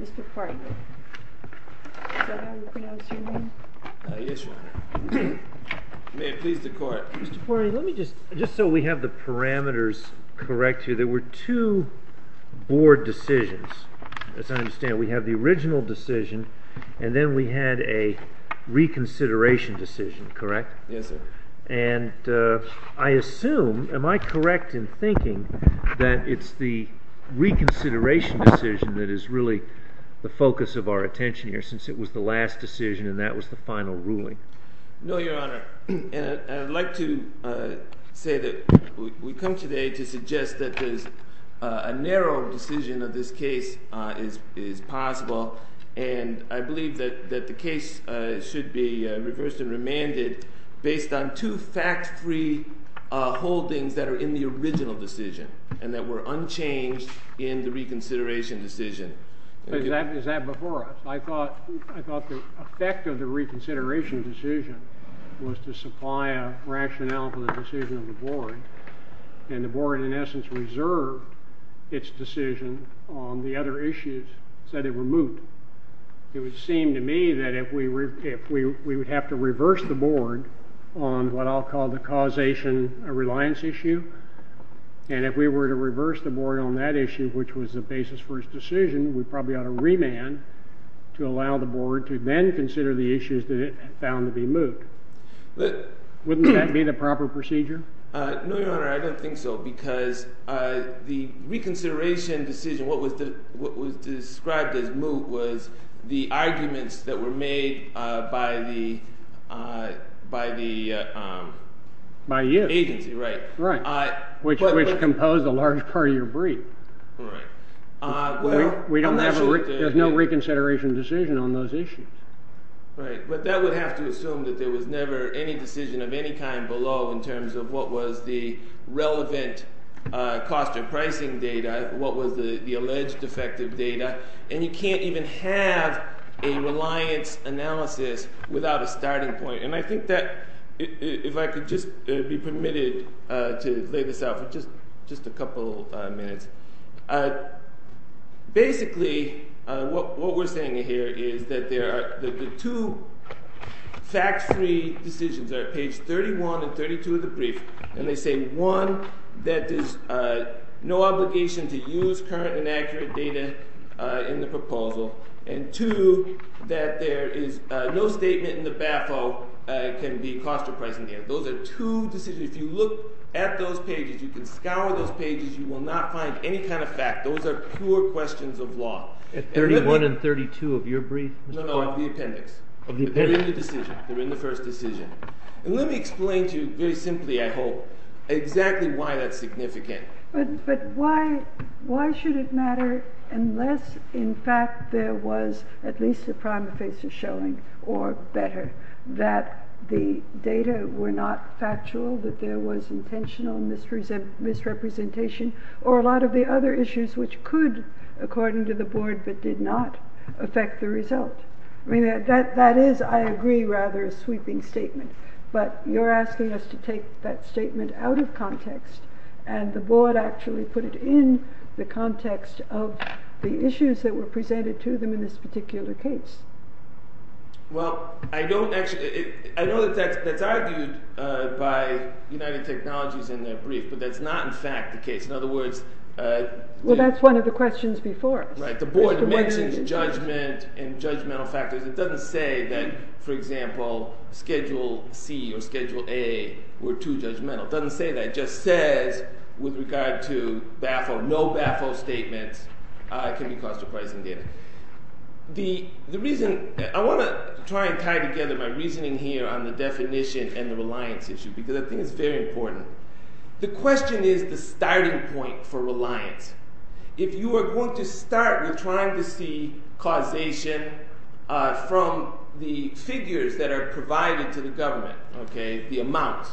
Mr. Farney, let me just, just so we have the parameters correct here, there were two board decisions, as I understand, we have the original decision and then we had a reconsideration decision, correct? Yes, sir. And I assume, am I correct in thinking that it's the reconsideration decision that is really the focus of our attention here since it was the last decision and that was the final ruling? No, Your Honor, and I'd like to say that we come today to suggest that there's a narrow decision of this case is possible and I believe that the case should be reversed and remanded based on two fact-free holdings that are in the original decision and that were unchanged in the reconsideration decision. Is that before us? I thought the effect of the reconsideration decision was to supply a rationale for the decision of the board and the board, in essence, reserved its decision on the other issues that it removed. It would seem to me that if we would have to reverse the board on what I'll call the causation reliance issue, and if we were to reverse the board on that issue, which was the basis for its decision, we probably ought to remand to allow the board to then consider the issues that it found to be moved. Wouldn't that be the proper procedure? No, Your Honor, I don't think so because the reconsideration decision, what was described as moved, was the arguments that were made by the agency, which composed a large part of your brief. There's no reconsideration decision on those issues. Right, but that would have to assume that there was never any decision of any kind below in terms of what was the relevant cost or pricing data, what was the alleged defective data, and you can't even have a reliance analysis without a starting point. And I think that, if I could just be permitted to lay this out for just a couple minutes. Basically, what we're saying here is that the two factors that are at issue in this case, one, that there is no obligation to use current and accurate data in the proposal, and two, that there is no statement in the BAPO that can be cost or pricing data. Those are two decisions. If you look at those pages, you can scour those pages, you will not find any kind of fact. Those are pure questions of law. At least the data were not factual, that there was intentional misrepresentation, or a lot of the other issues which could, according to the board, but did not affect the result. That is, I agree, rather a sweeping statement. But you're asking us to take that statement out of context, and the board actually put it in the context of the issues that were presented to them in this particular case. Well, I know that that's argued by United Technologies in their brief, but that's not in fact the case. In other words... Well, that's one of the questions before us. Right. The board mentions judgment and judgmental factors. It doesn't say that, for example, Schedule C or Schedule A were too judgmental. It doesn't say that. It just says, with regard to BAPO, no BAPO statements can be cost or pricing data. The reason... I want to try and tie together my reasoning here on the definition and the The question is the starting point for reliance. If you are going to start with trying to see causation from the figures that are provided to the government, the amount,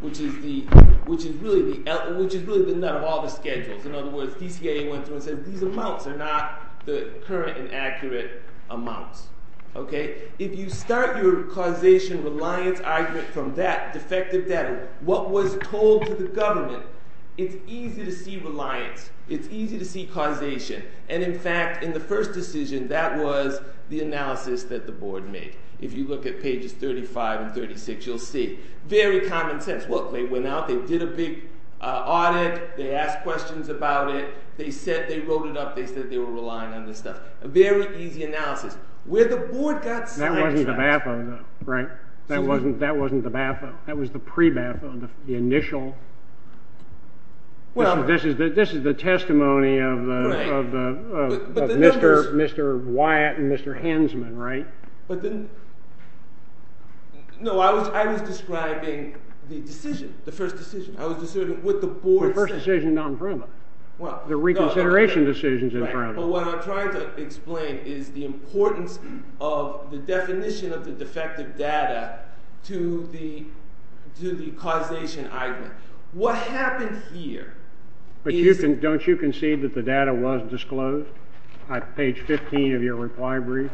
which is really the nut of all the schedules. In other words, DCA went through and said, these amounts are not the current and accurate amounts. If you start your causation reliance argument from that defective data, what was told to the government, it's easy to see reliance. It's easy to see causation. And in fact, in the first decision, that was the analysis that the board made. If you look at pages 35 and 36, you'll see. Very common sense. Look, they went out, they did a big audit, they asked questions about it, they said they wrote it up, they said they were relying on this stuff. A very easy analysis. Where the board got That wasn't the BAFO. That was the pre-BAFO, the initial. This is the testimony of Mr. Wyatt and Mr. Hensman, right? No, I was describing the decision, the first decision. I was describing what the board said. The first decision is not in front of us. The reconsideration decision is in front of us. But what I'm trying to explain is the importance of the definition of the defective data to the causation argument. What happened here is But don't you concede that the data was disclosed? On page 15 of your reply brief,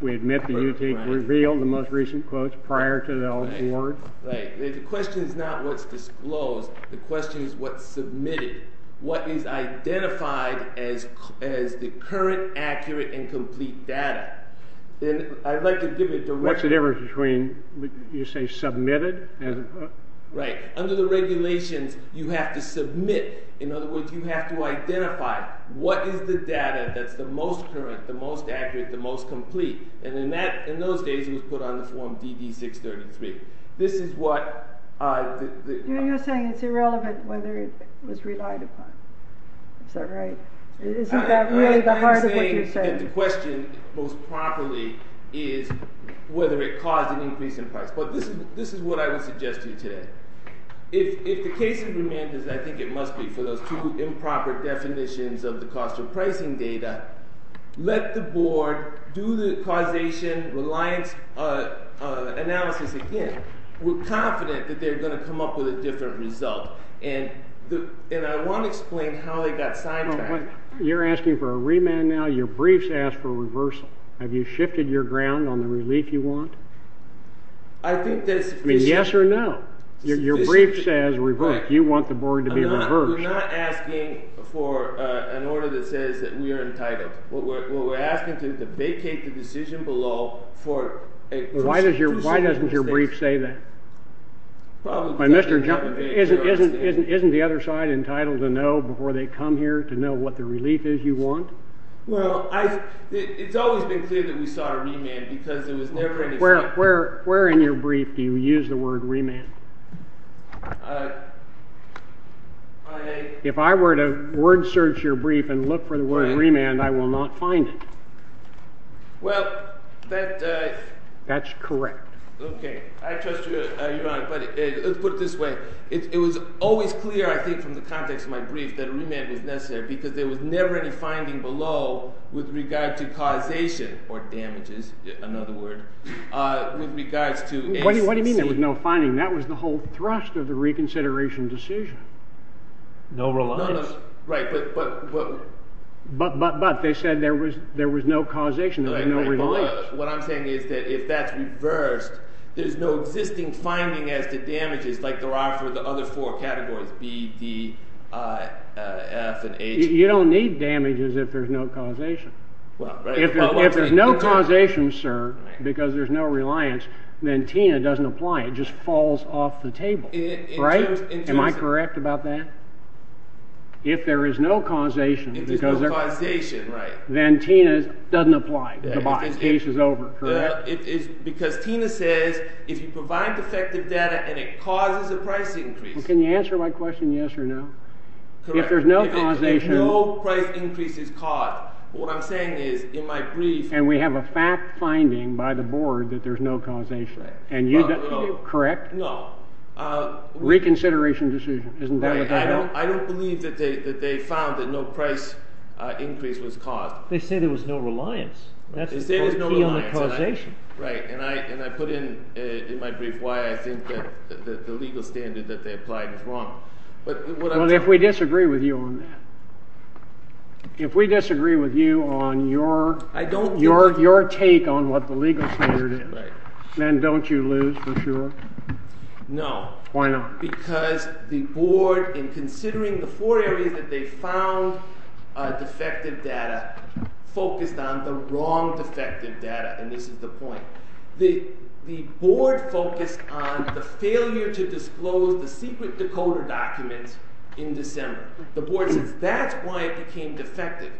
we admit that you revealed the most recent quotes prior to the board. Right. The question is not what's disclosed. The question is what's submitted. What is identified as the current, accurate, and complete data. What's the difference between, you say, submitted? Right. Under the regulations, you have to submit. In other words, you have to identify what is the data that's the most current, the most accurate, the most complete. And that, in those days, was put on the form DD-633. This is what You're saying it's irrelevant whether it was relied upon. Is that right? Isn't that really the heart of what you're saying? The question most properly is whether it caused an increase in price. But this is what I would suggest to you today. If the case remains as I think it must be for those two improper definitions of the cost of pricing data, let the board do the causation reliance analysis again. We're confident that they're going to come up with a different result. And I want to explain how they got sidetracked. You're asking for a remand now. Your briefs ask for a reversal. Have you shifted your ground on the relief you want? I think that's sufficient. I mean, yes or no? Your brief says reverse. You want the board to be reversed. We're not asking for an order that says that we are entitled. What we're asking for is to vacate the decision below. Why doesn't your brief say that? Isn't the other side entitled to know before they come here to know what the relief is you want? Well, it's always been clear that we sought a remand because there was never any... Where in your brief do you use the word remand? If I were to word search your brief and look for the word remand, I will not find it. Well, that... That's correct. Okay. I trust you. You're right. But let's put it this way. It was always clear, I think, from the context of my brief that remand was necessary because there was never any finding below with regard to causation or damages, another word, with regards to... What do you mean there was no finding? That was the whole thrust of the reconsideration decision. No reliance. Right, but... But they said there was no causation, there was no reliance. What I'm saying is that if that's reversed, there's no existing finding as to damages like there are for the other four categories, B, D, F, and H. You don't need damages if there's no causation. If there's no causation, sir, because there's no reliance, then TINA doesn't apply. It just falls off the table. Am I correct about that? If there is no causation, then TINA doesn't apply. The case is over. Because TINA says if you provide defective data and it causes a price increase... Can you answer my question yes or no? If there's no causation... What I'm saying is, in my brief... And we have a fact-finding by the board that there's no causation. Right. Correct? No. Reconsideration decision. Isn't that what that is? I don't believe that they found that no price increase was caused. They said there was no reliance. They said there was no reliance. That's the key on the causation. Right, and I put in my brief why I think that the legal standard that they applied is wrong. Well, if we disagree with you on that, if we disagree with you on your take on what the legal standard is, then don't you lose for sure? No. Why not? Because the board, in considering the four areas that they found defective data, focused on the wrong defective data, and this is the point. The board focused on the failure to disclose the secret decoder documents in December. The board says that's why it became defective.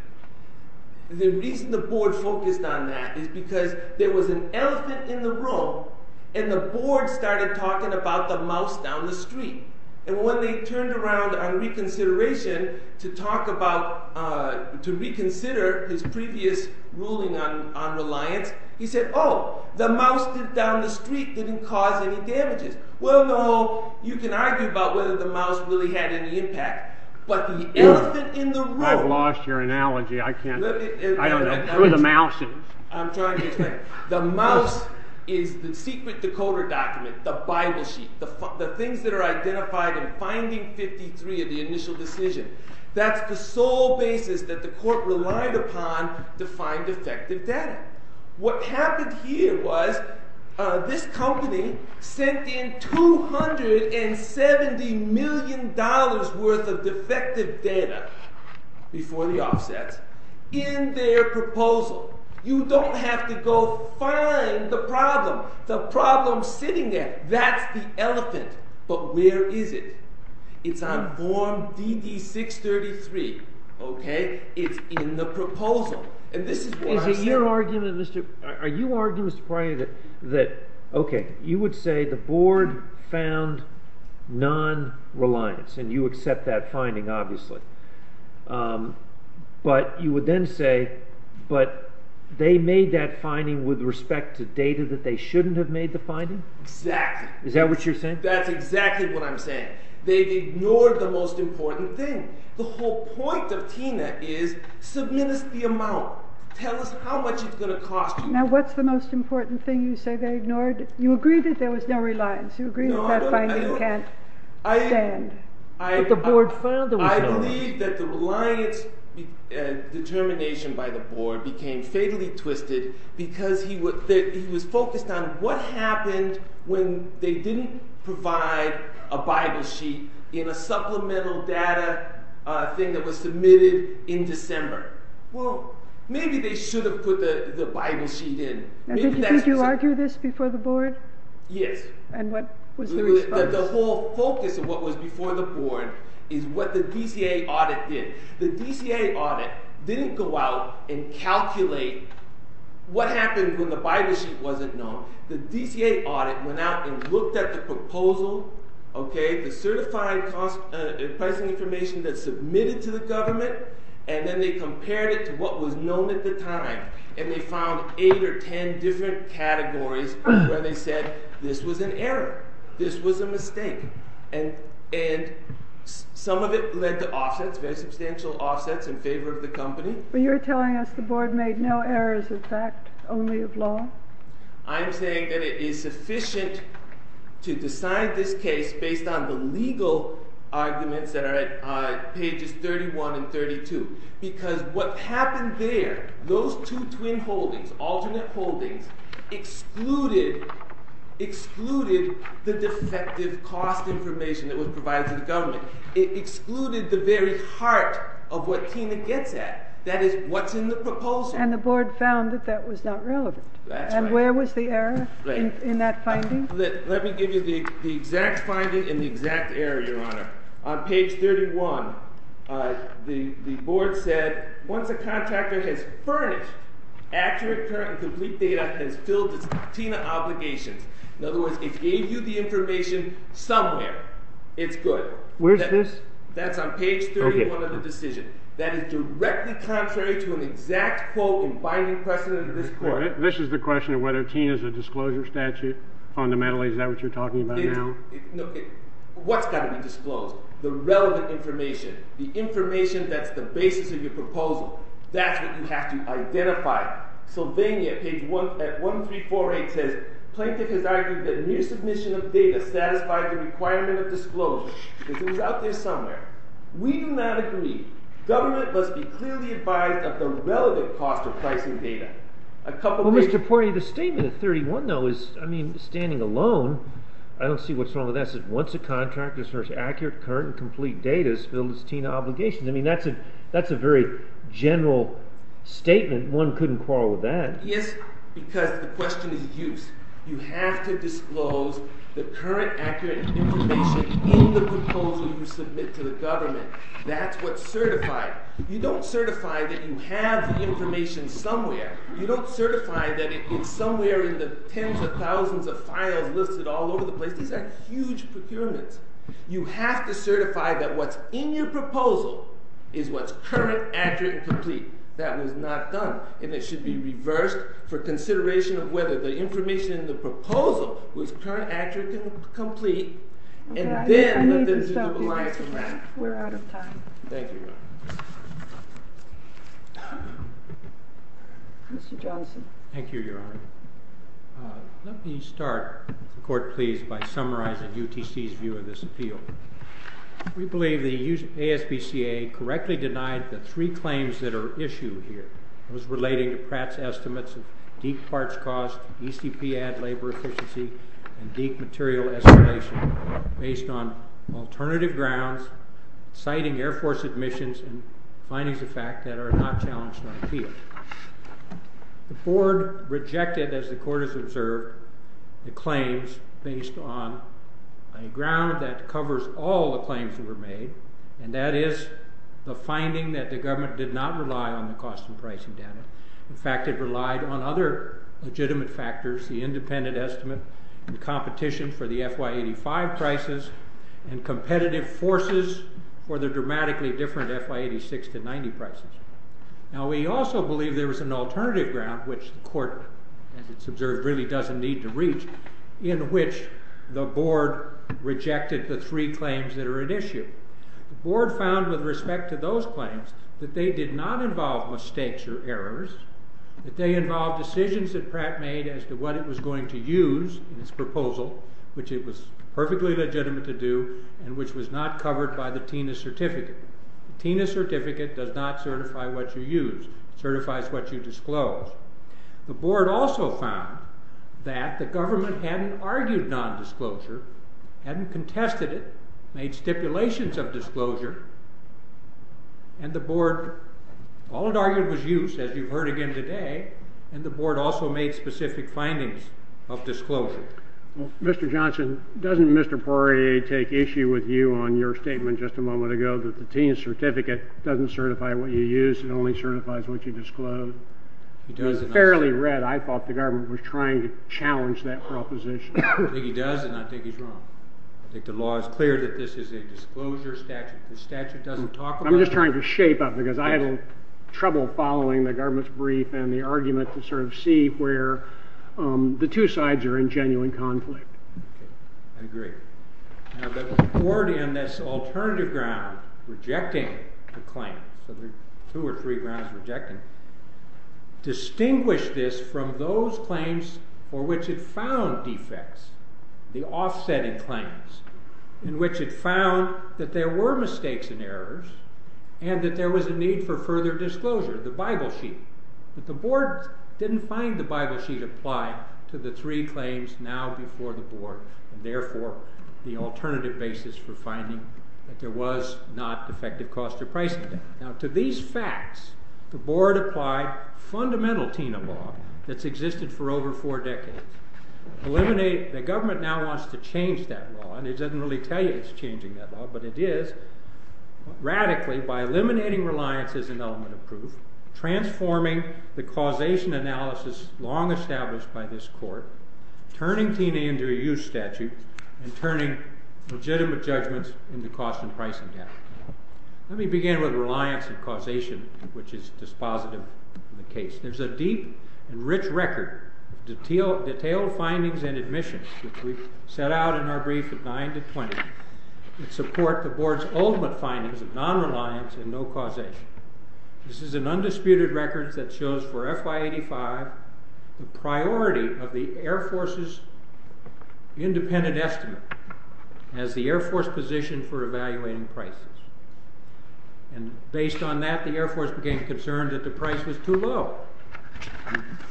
The reason the board focused on that is because there was an elephant in the room, and the board started talking about the mouse down the street. And when they turned around on reconsideration to talk about... to reconsider his previous ruling on reliance, he said, oh, the mouse down the street didn't cause any damages. Well, no, you can argue about whether the mouse really had any impact, but the elephant in the room... I've lost your analogy. I can't... I don't know. The mouse is... I'm trying to explain. The mouse is the secret decoder document, the Bible sheet, the things that are identified in finding 53 of the initial decision. That's the sole basis that the court relied upon to find defective data. What happened here was this company sent in $270 million worth of defective data before the offsets in their proposal. You don't have to go find the problem. The problem's sitting there. That's the elephant. But where is it? It's on form DD-633. Okay? It's in the proposal. And this is what I said. Are you arguing, Mr. Pryor, that, okay, you would say the board found non-reliance, and you accept that finding, obviously, but you would then say, but they made that finding with respect to data that they shouldn't have made the finding? Exactly. Is that what you're saying? That's exactly what I'm saying. They ignored the most important thing. The whole point of Tina is, submit us the amount. Tell us how much it's going to cost you. Now, what's the most important thing you say they ignored? You agree that there was no reliance. You agree that that finding can't stand. But the board filed it with no reliance. I believe that the reliance determination by the board became fatally twisted because he was focused on what happened when they didn't provide a Bible sheet in a supplemental data thing that was submitted in December. Well, maybe they should have put the Bible sheet in. Did you argue this before the board? Yes. And what was the response? The whole focus of what was before the board is what the DCA audit did. The DCA audit didn't go out and calculate what happened when the Bible sheet wasn't known. The DCA audit went out and looked at the proposal, the certified pricing information that's submitted to the government, and then they compared it to what was known at the time. And they found eight or ten different categories where they said this was an error, this was a mistake. And some of it led to offsets, very substantial offsets in favor of the company. But you're telling us the board made no errors of fact, only of law? I'm saying that it is sufficient to decide this case based on the legal arguments that are at pages 31 and 32. Because what happened there, those two twin holdings, alternate holdings, excluded the defective cost information that was provided to the government. It excluded the very heart of what Tina gets at, that is, what's in the proposal. And the board found that that was not relevant. That's right. And where was the error in that finding? Let me give you the exact finding and the exact error, Your Honor. On page 31, the board said, once a contractor has furnished accurate, current, and complete data and has filled its Tina obligations. In other words, it gave you the information somewhere. It's good. Where's this? That's on page 31 of the decision. That is directly contrary to an exact quote in binding precedent of this court. This is the question of whether Tina's a disclosure statute. Fundamentally, is that what you're talking about now? What's got to be disclosed? The relevant information. The information that's the basis of your proposal. That's what you have to identify. Sylvania, page 1348 says, Plaintiff has argued that mere submission of data satisfies the requirement of disclosure. This is out there somewhere. We do not agree. Government must be clearly advised of the relevant cost of pricing data. A couple of reasons. Your Honor, the statement at 31, though, is, I mean, standing alone, I don't see what's wrong with that. It says, once a contractor has furnished accurate, current, and complete data and has filled its Tina obligations. I mean, that's a very general statement. One couldn't quarrel with that. Yes, because the question is used. You have to disclose the current, accurate information in the proposal you submit to the government. That's what's certified. You don't certify that you have the information somewhere. You don't certify that it's somewhere in the tens of thousands of files listed all over the place. These are huge procurements. You have to certify that what's in your proposal is what's current, accurate, and complete. That was not done. And it should be reversed for consideration of whether the information in the proposal was current, accurate, and complete. And then let them do the beliefs of that. We're out of time. Thank you, Your Honor. Mr. Johnson. Thank you, Your Honor. Let me start, the Court, please, by summarizing UTC's view of this appeal. We believe the ASBCA correctly denied the three claims that are issued here. It was relating to Pratt's estimates of deep parts cost, ECP ad labor efficiency, and deep material escalation based on alternative grounds, citing Air Force admissions and findings of fact that are not challenged on appeal. The Board rejected, as the Court has observed, the claims based on a ground that covers all the claims that were made, and that is the finding that the government did not rely on the cost and pricing data. In fact, it relied on other legitimate factors, the independent estimate and competition for the FY85 prices and competitive forces for the dramatically different FY86 to 90 prices. Now, we also believe there was an alternative ground, which the Court, as it's observed, really doesn't need to reach, in which the Board rejected the three claims that are at issue. The Board found, with respect to those claims, that they did not involve mistakes or errors, that they involved decisions that Pratt made as to what it was going to use in its proposal, which it was perfectly legitimate to do, and which was not covered by the TINA certificate. The TINA certificate does not certify what you use. It certifies what you disclose. The Board also found that the government hadn't argued non-disclosure, hadn't contested it, made stipulations of disclosure, and the Board, all it argued was use, as you've heard again today, and the Board also made specific findings of disclosure. Mr. Johnson, doesn't Mr. Poirier take issue with you on your statement just a moment ago that the TINA certificate doesn't certify what you use, it only certifies what you disclose? It was fairly red. I thought the government was trying to challenge that proposition. I think he does, and I think he's wrong. I think the law is clear that this is a disclosure statute. The statute doesn't talk about it. I'm just trying to shape up, because I had a little trouble following the government's brief and the argument to sort of see where the two sides are in genuine conflict. I agree. Now, the Board, on this alternative ground, rejecting the claim, so there are two or three grounds of rejecting, distinguished this from those claims for which it found defects. The offsetting claims, in which it found that there were mistakes and errors, and that there was a need for further disclosure, the Bible sheet. But the Board didn't find the Bible sheet applied to the three claims now before the Board, and therefore the alternative basis for finding that there was not defective cost or pricing debt. Now, to these facts, the Board applied fundamental TINA law that's existed for over four decades. The government now wants to change that law, and it doesn't really tell you it's changing that law, but it is, radically, by eliminating reliance as an element of proof, transforming the causation analysis long established by this Court, turning TINA into a use statute, and turning legitimate judgments into cost and pricing debt. Let me begin with reliance and causation, which is dispositive in the case. There's a deep and rich record of detailed findings and admissions that we've set out in our brief of 9 to 20 that support the Board's ultimate findings of non-reliance and no causation. This is an undisputed record that shows for FY85 the priority of the Air Force's independent estimate as the Air Force position for evaluating prices. And based on that, the Air Force became concerned that the price was too low.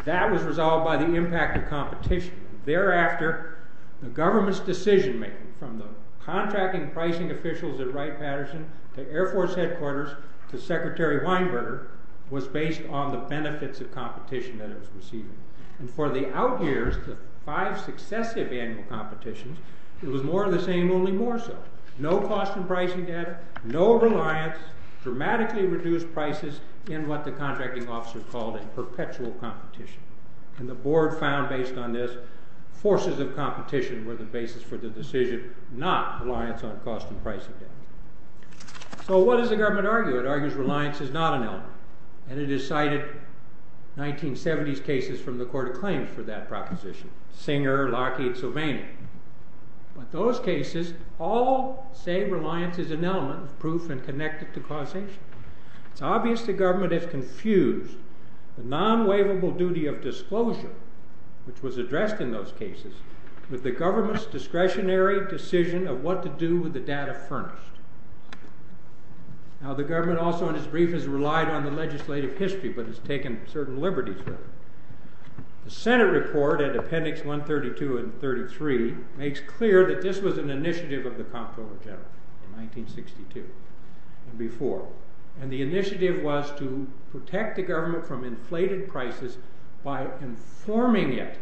That was resolved by the impact of competition. Thereafter, the government's decision-making, from the contracting pricing officials at Wright-Patterson to Air Force headquarters to Secretary Weinberger, was based on the benefits of competition that it was receiving. And for the out-years, the five successive annual competitions, it was more of the same, only more so. No cost and pricing debt, no reliance, dramatically reduced prices in what the contracting officer called a perpetual competition. And the Board found, based on this, forces of competition were the basis for the decision, not reliance on cost and pricing debt. So what does the government argue? It argues reliance is not an element. And it has cited 1970s cases from the Court of Claims for that proposition. Singer, Lockheed, Sylvania. But those cases all say reliance is an element, proof and connected to causation. It's obvious the government has confused the non-waivable duty of disclosure, which was addressed in those cases, with the government's discretionary decision of what to do with the data furnished. Now the government also in its brief has relied on the legislative history, but has taken certain liberties with it. The Senate report at Appendix 132 and 133 makes clear that this was an initiative of the Comptroller General in 1962 and before. And the initiative was to protect the government from inflated prices by informing it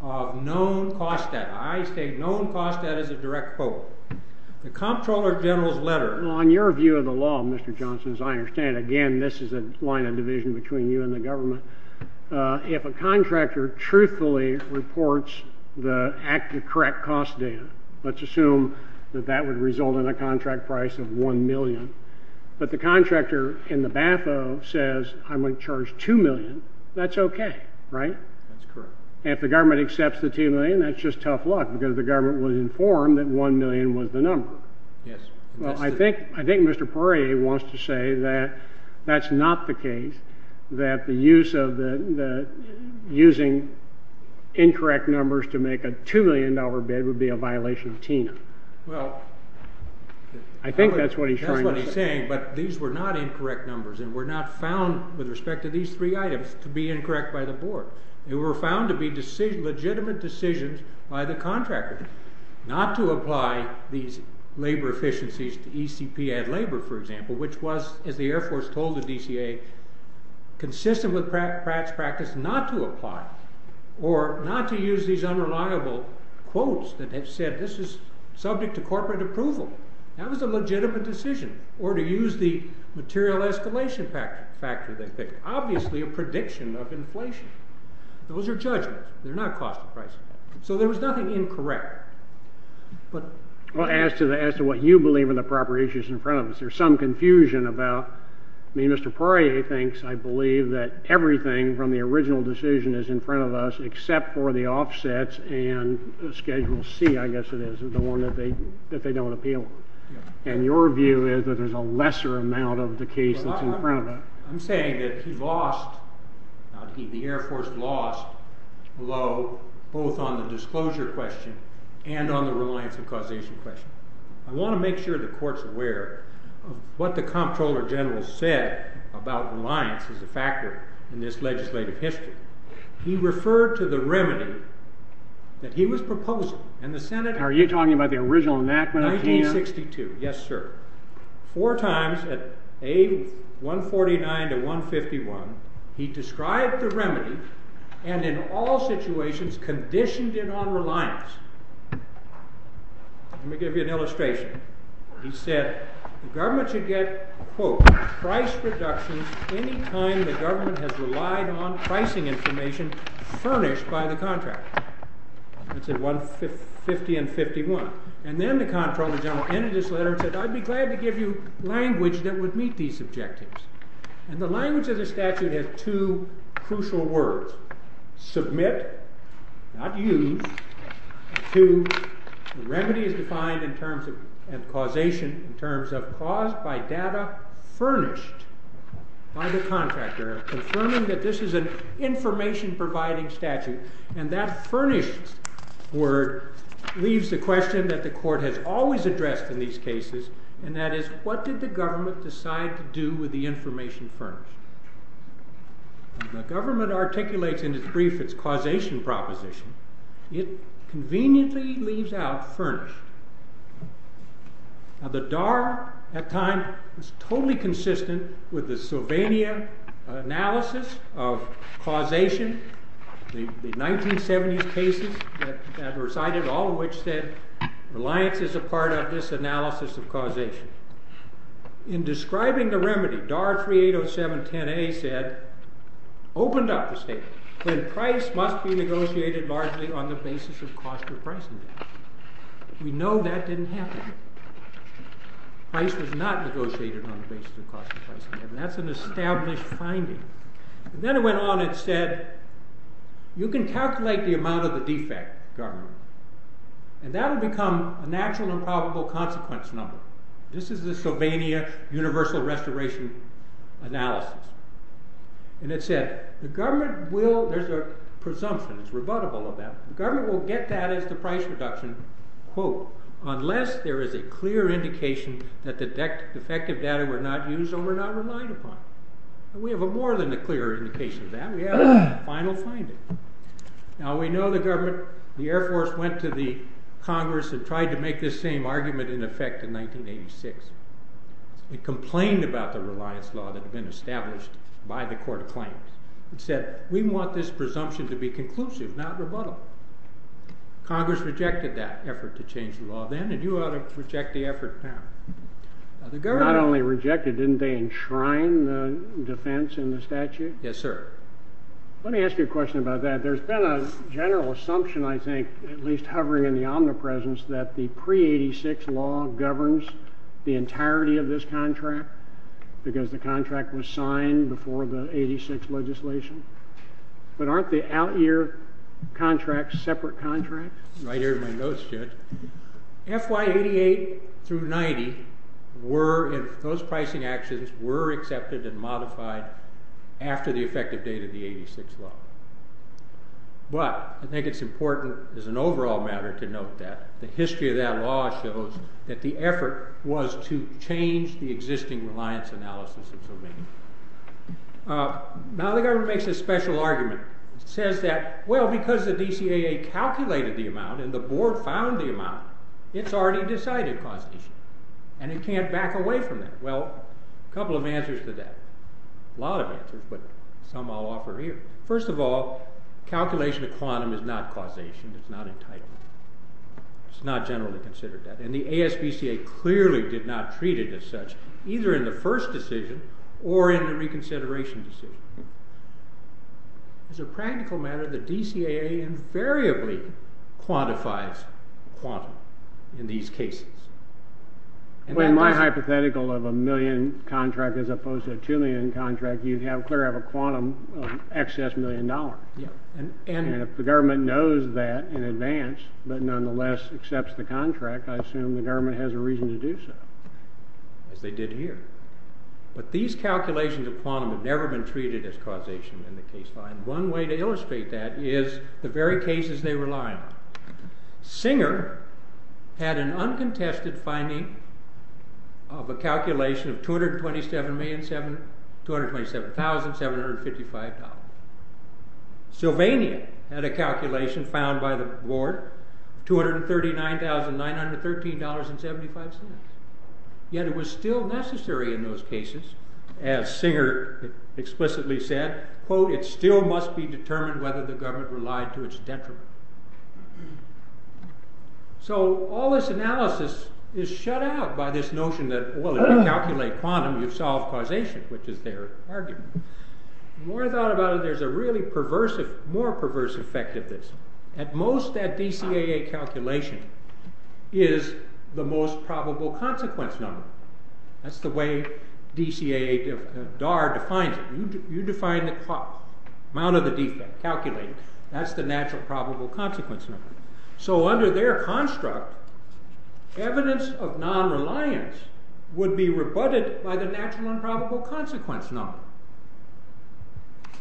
of known cost debt. I state known cost debt as a direct foe. The Comptroller General's letter... Again, this is a line of division between you and the government. If a contractor truthfully reports the correct cost data, let's assume that that would result in a contract price of $1 million, but the contractor in the BAFO says, I'm going to charge $2 million, that's okay, right? That's correct. If the government accepts the $2 million, that's just tough luck, because the government was informed that $1 million was the number. Yes. Well, I think Mr. Poirier wants to say that that's not the case, that the use of the... using incorrect numbers to make a $2 million bid would be a violation of TINA. Well... I think that's what he's trying to... That's what he's saying, but these were not incorrect numbers, and were not found, with respect to these three items, to be incorrect by the board. They were found to be legitimate decisions by the contractor, not to apply these labor efficiencies to ECP ad labor, for example, which was, as the Air Force told the DCA, consistent with Pratt's practice not to apply, or not to use these unreliable quotes that have said this is subject to corporate approval. That was a legitimate decision. Or to use the material escalation factor they picked. Obviously a prediction of inflation. Those are judgments. They're not cost and price. So there was nothing incorrect. But... Well, as to what you believe in the proper issues in front of us, there's some confusion about... I mean, Mr. Poirier thinks, I believe, that everything from the original decision is in front of us, except for the offsets and Schedule C, I guess it is, the one that they don't appeal. And your view is that there's a lesser amount of the case that's in front of us. I'm saying that he lost, the Air Force lost, low, both on the disclosure question and on the reliance and causation question. I want to make sure the court's aware of what the Comptroller General said about reliance as a factor in this legislative history. He referred to the remedy that he was proposing. And the Senate... Are you talking about the original enactment up to here? 1962. Yes, sir. Four times at A149 to 151, he described the remedy and in all situations conditioned it on reliance. Let me give you an illustration. He said the government should get, quote, price reductions any time the government has relied on pricing information furnished by the contractor. That's at 150 and 51. And then the Comptroller General entered this letter and said, I'd be glad to give you language that would meet these objectives. And the language of the statute has two crucial words. First, submit, not use. Two, the remedy is defined in terms of causation in terms of caused by data furnished by the contractor confirming that this is an information providing statute. And that furnished word leaves the question that the court has always addressed in these cases. And that is, what did the government decide to do with the information furnished? The government articulates in its brief its causation proposition. It conveniently leaves out furnished. Now the DAR at that time was totally consistent with the Sylvania analysis of causation. The 1970s cases that were cited, all of which said reliance is a part of this analysis of causation. In describing the remedy, DAR 380710A said, opened up the statement that price must be negotiated largely on the basis of cost of pricing. We know that didn't happen. Price was not negotiated on the basis of cost of pricing. And that's an established finding. And then it went on and said, you can calculate the amount of the defect, government. And that will become a natural and probable consequence number. This is the Sylvania universal restoration analysis. And it said, the government will, there's a presumption, it's rebuttable of that. The government will get that as the price reduction, quote, unless there is a clear indication that the defective data were not used or were not relied upon. We have more than a clear indication of that. We have a final finding. Now, we know the government, the Air Force went to the Congress and tried to make this same argument in effect in 1986. It complained about the reliance law that had been established by the court of claims. It said, we want this presumption to be conclusive, not rebuttal. Congress rejected that effort to change the law then, and you ought to reject the effort now. Not only rejected, didn't they enshrine the defense in the statute? Yes, sir. Let me ask you a question about that. There's been a general assumption, I think, at least hovering in the omnipresence, that the pre-'86 law governs the entirety of this contract because the contract was signed before the 86 legislation. But aren't the out-year contracts separate contracts? FY88 through 90, those pricing actions were accepted and modified after the effective date of the 86 law. But, I think it's important as an overall matter to note that the history of that law shows that the effort was to change the existing reliance analysis. Now, the government makes a special argument. It says that, well, because the DCAA calculated the amount and the board found the amount, it's already decided causation. And it can't back away from that. Well, a couple of answers to that. A lot of answers, but some I'll offer here. First of all, calculation of quantum is not causation, it's not entitlement. It's not generally considered that. And the ASBCA clearly did not treat it as such, either in the first decision or in the reconsideration decision. It's a practical matter that DCAA invariably quantifies quantum in these cases. Well, in my hypothetical of a million contract as opposed to a two million contract, you have a quantum of excess million dollars. And if the government knows that in advance, but nonetheless accepts the contract, I assume the government has a reason to do so. As they did here. But these calculations of quantum have never been treated as causation in the case law. And one way to illustrate that is the very cases they rely on. Singer had an uncontested finding of a calculation of $227,755. Sylvania had a calculation found by the board, $239,913.75. Yet it was still necessary in those cases, as Singer explicitly said, quote, it still must be determined whether the government relied to its detriment. So all this analysis is shut out by this notion that, well, if you calculate quantum, you solve causation, which is their argument. The more I thought about it, there's a really perverse, more perverse effect of this. At most, that DCAA calculation is the most probable consequence number. That's the way DCAA, DAR defines it. You define the amount of the defect calculated. That's the natural probable consequence number. So under their construct, evidence of non-reliance would be rebutted by the natural improbable consequence number.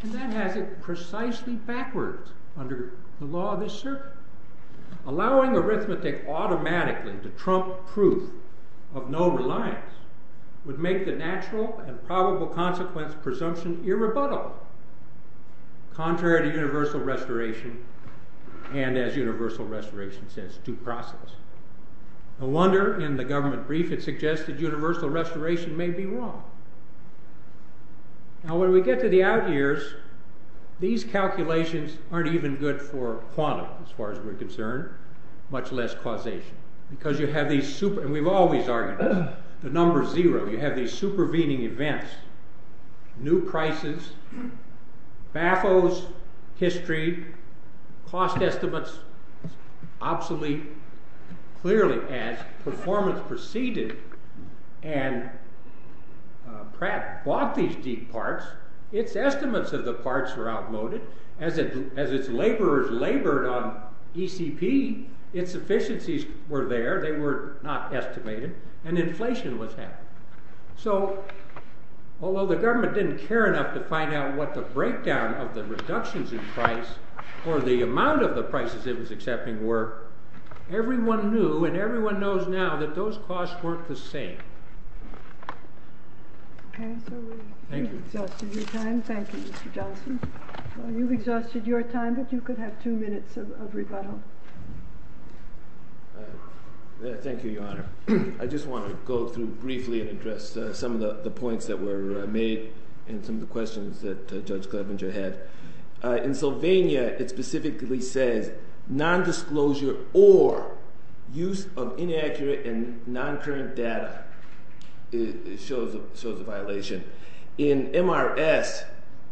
And that has it precisely backwards under the law of this circuit. Allowing arithmetic automatically to trump proof of no reliance would make the natural and probable consequence presumption irrebuttable, contrary to universal restoration and, as universal restoration says, due process. No wonder in the government brief it suggested universal restoration may be wrong. Now when we get to the out years, these calculations aren't even good for quantum, as far as we're concerned, much less causation. Because you have these super, and we've always argued, the number zero, you have these supervening events, new prices, baffos history, cost estimates, obsolete. Clearly as performance proceeded and Pratt bought these deep parts, its estimates of the parts were outmoded. As its laborers labored on ECP, its efficiencies were there, they were not estimated, and inflation was half. So, although the government didn't care enough to find out what the breakdown of the reductions in price, or the amount of the prices it was accepting were, everyone knew, and everyone knows now, that those costs weren't the same. Okay, so we've exhausted your time. Thank you, Mr. Johnson. You've exhausted your time, but you could have two minutes of rebuttal. Thank you, Your Honor. I just want to go through briefly and address some of the points that were made, and some of the questions that Judge Klebinger had. In Sylvania, it specifically says, non-disclosure or use of inaccurate and non-current data shows a violation. In MRS,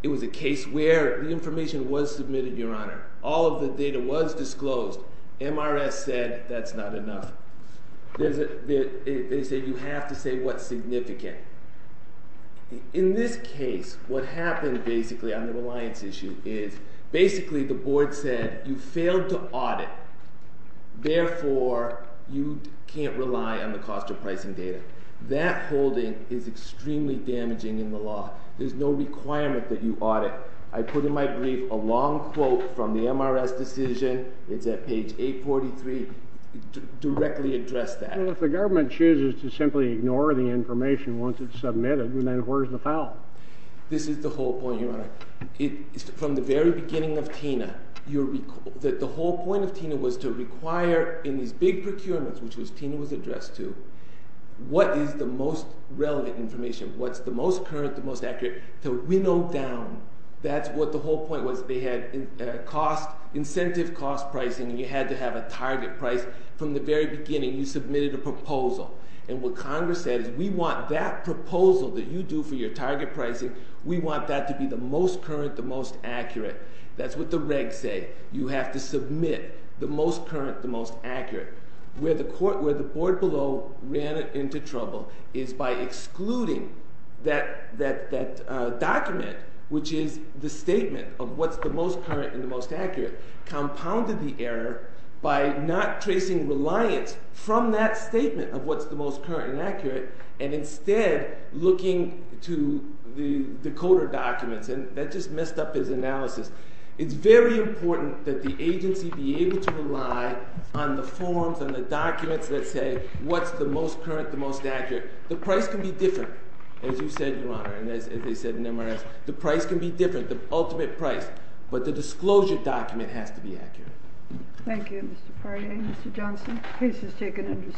it was a case where the information was submitted, Your Honor. All of the data was disclosed. MRS said, that's not enough. They say you have to say what's significant. In this case, what happened basically on the reliance issue is, basically the board said, you failed to audit, therefore, you can't rely on the cost of pricing data. That holding is extremely damaging in the law. There's no requirement that you audit. I put in my brief a long quote from the MRS decision. It's at page 843. Directly address that. Well, if the government chooses to simply ignore the information once it's submitted, then where's the foul? This is the whole point, Your Honor. From the very beginning of TINA, the whole point of TINA was to require in these big procurements, which TINA was addressed to, what is the most relevant information, what's the most current, the most accurate, to winnow down. That's what the whole point was. They had incentive cost pricing, and you had to have a target price. From the very beginning, you submitted a proposal, and what Congress said is, we want that proposal that you do for your target pricing, we want that to be the most current, the most accurate. That's what the regs say. You have to submit the most current, the most accurate. Where the board below ran into trouble is by excluding that document, which is the statement of what's the most current and the most accurate, compounded the error by not tracing reliance from that statement of what's the most current and accurate, and instead looking to the coder documents, and that just messed up his analysis. It's very important that the agency be able to rely on the forms and the documents that say what's the most current, the most accurate. The price can be different, as you said, Your Honor, and as they said in MRS, the price can be different, the ultimate price. But the disclosure document has to be accurate. Thank you, Mr. Farrier. Mr. Johnson, case is taken under submission.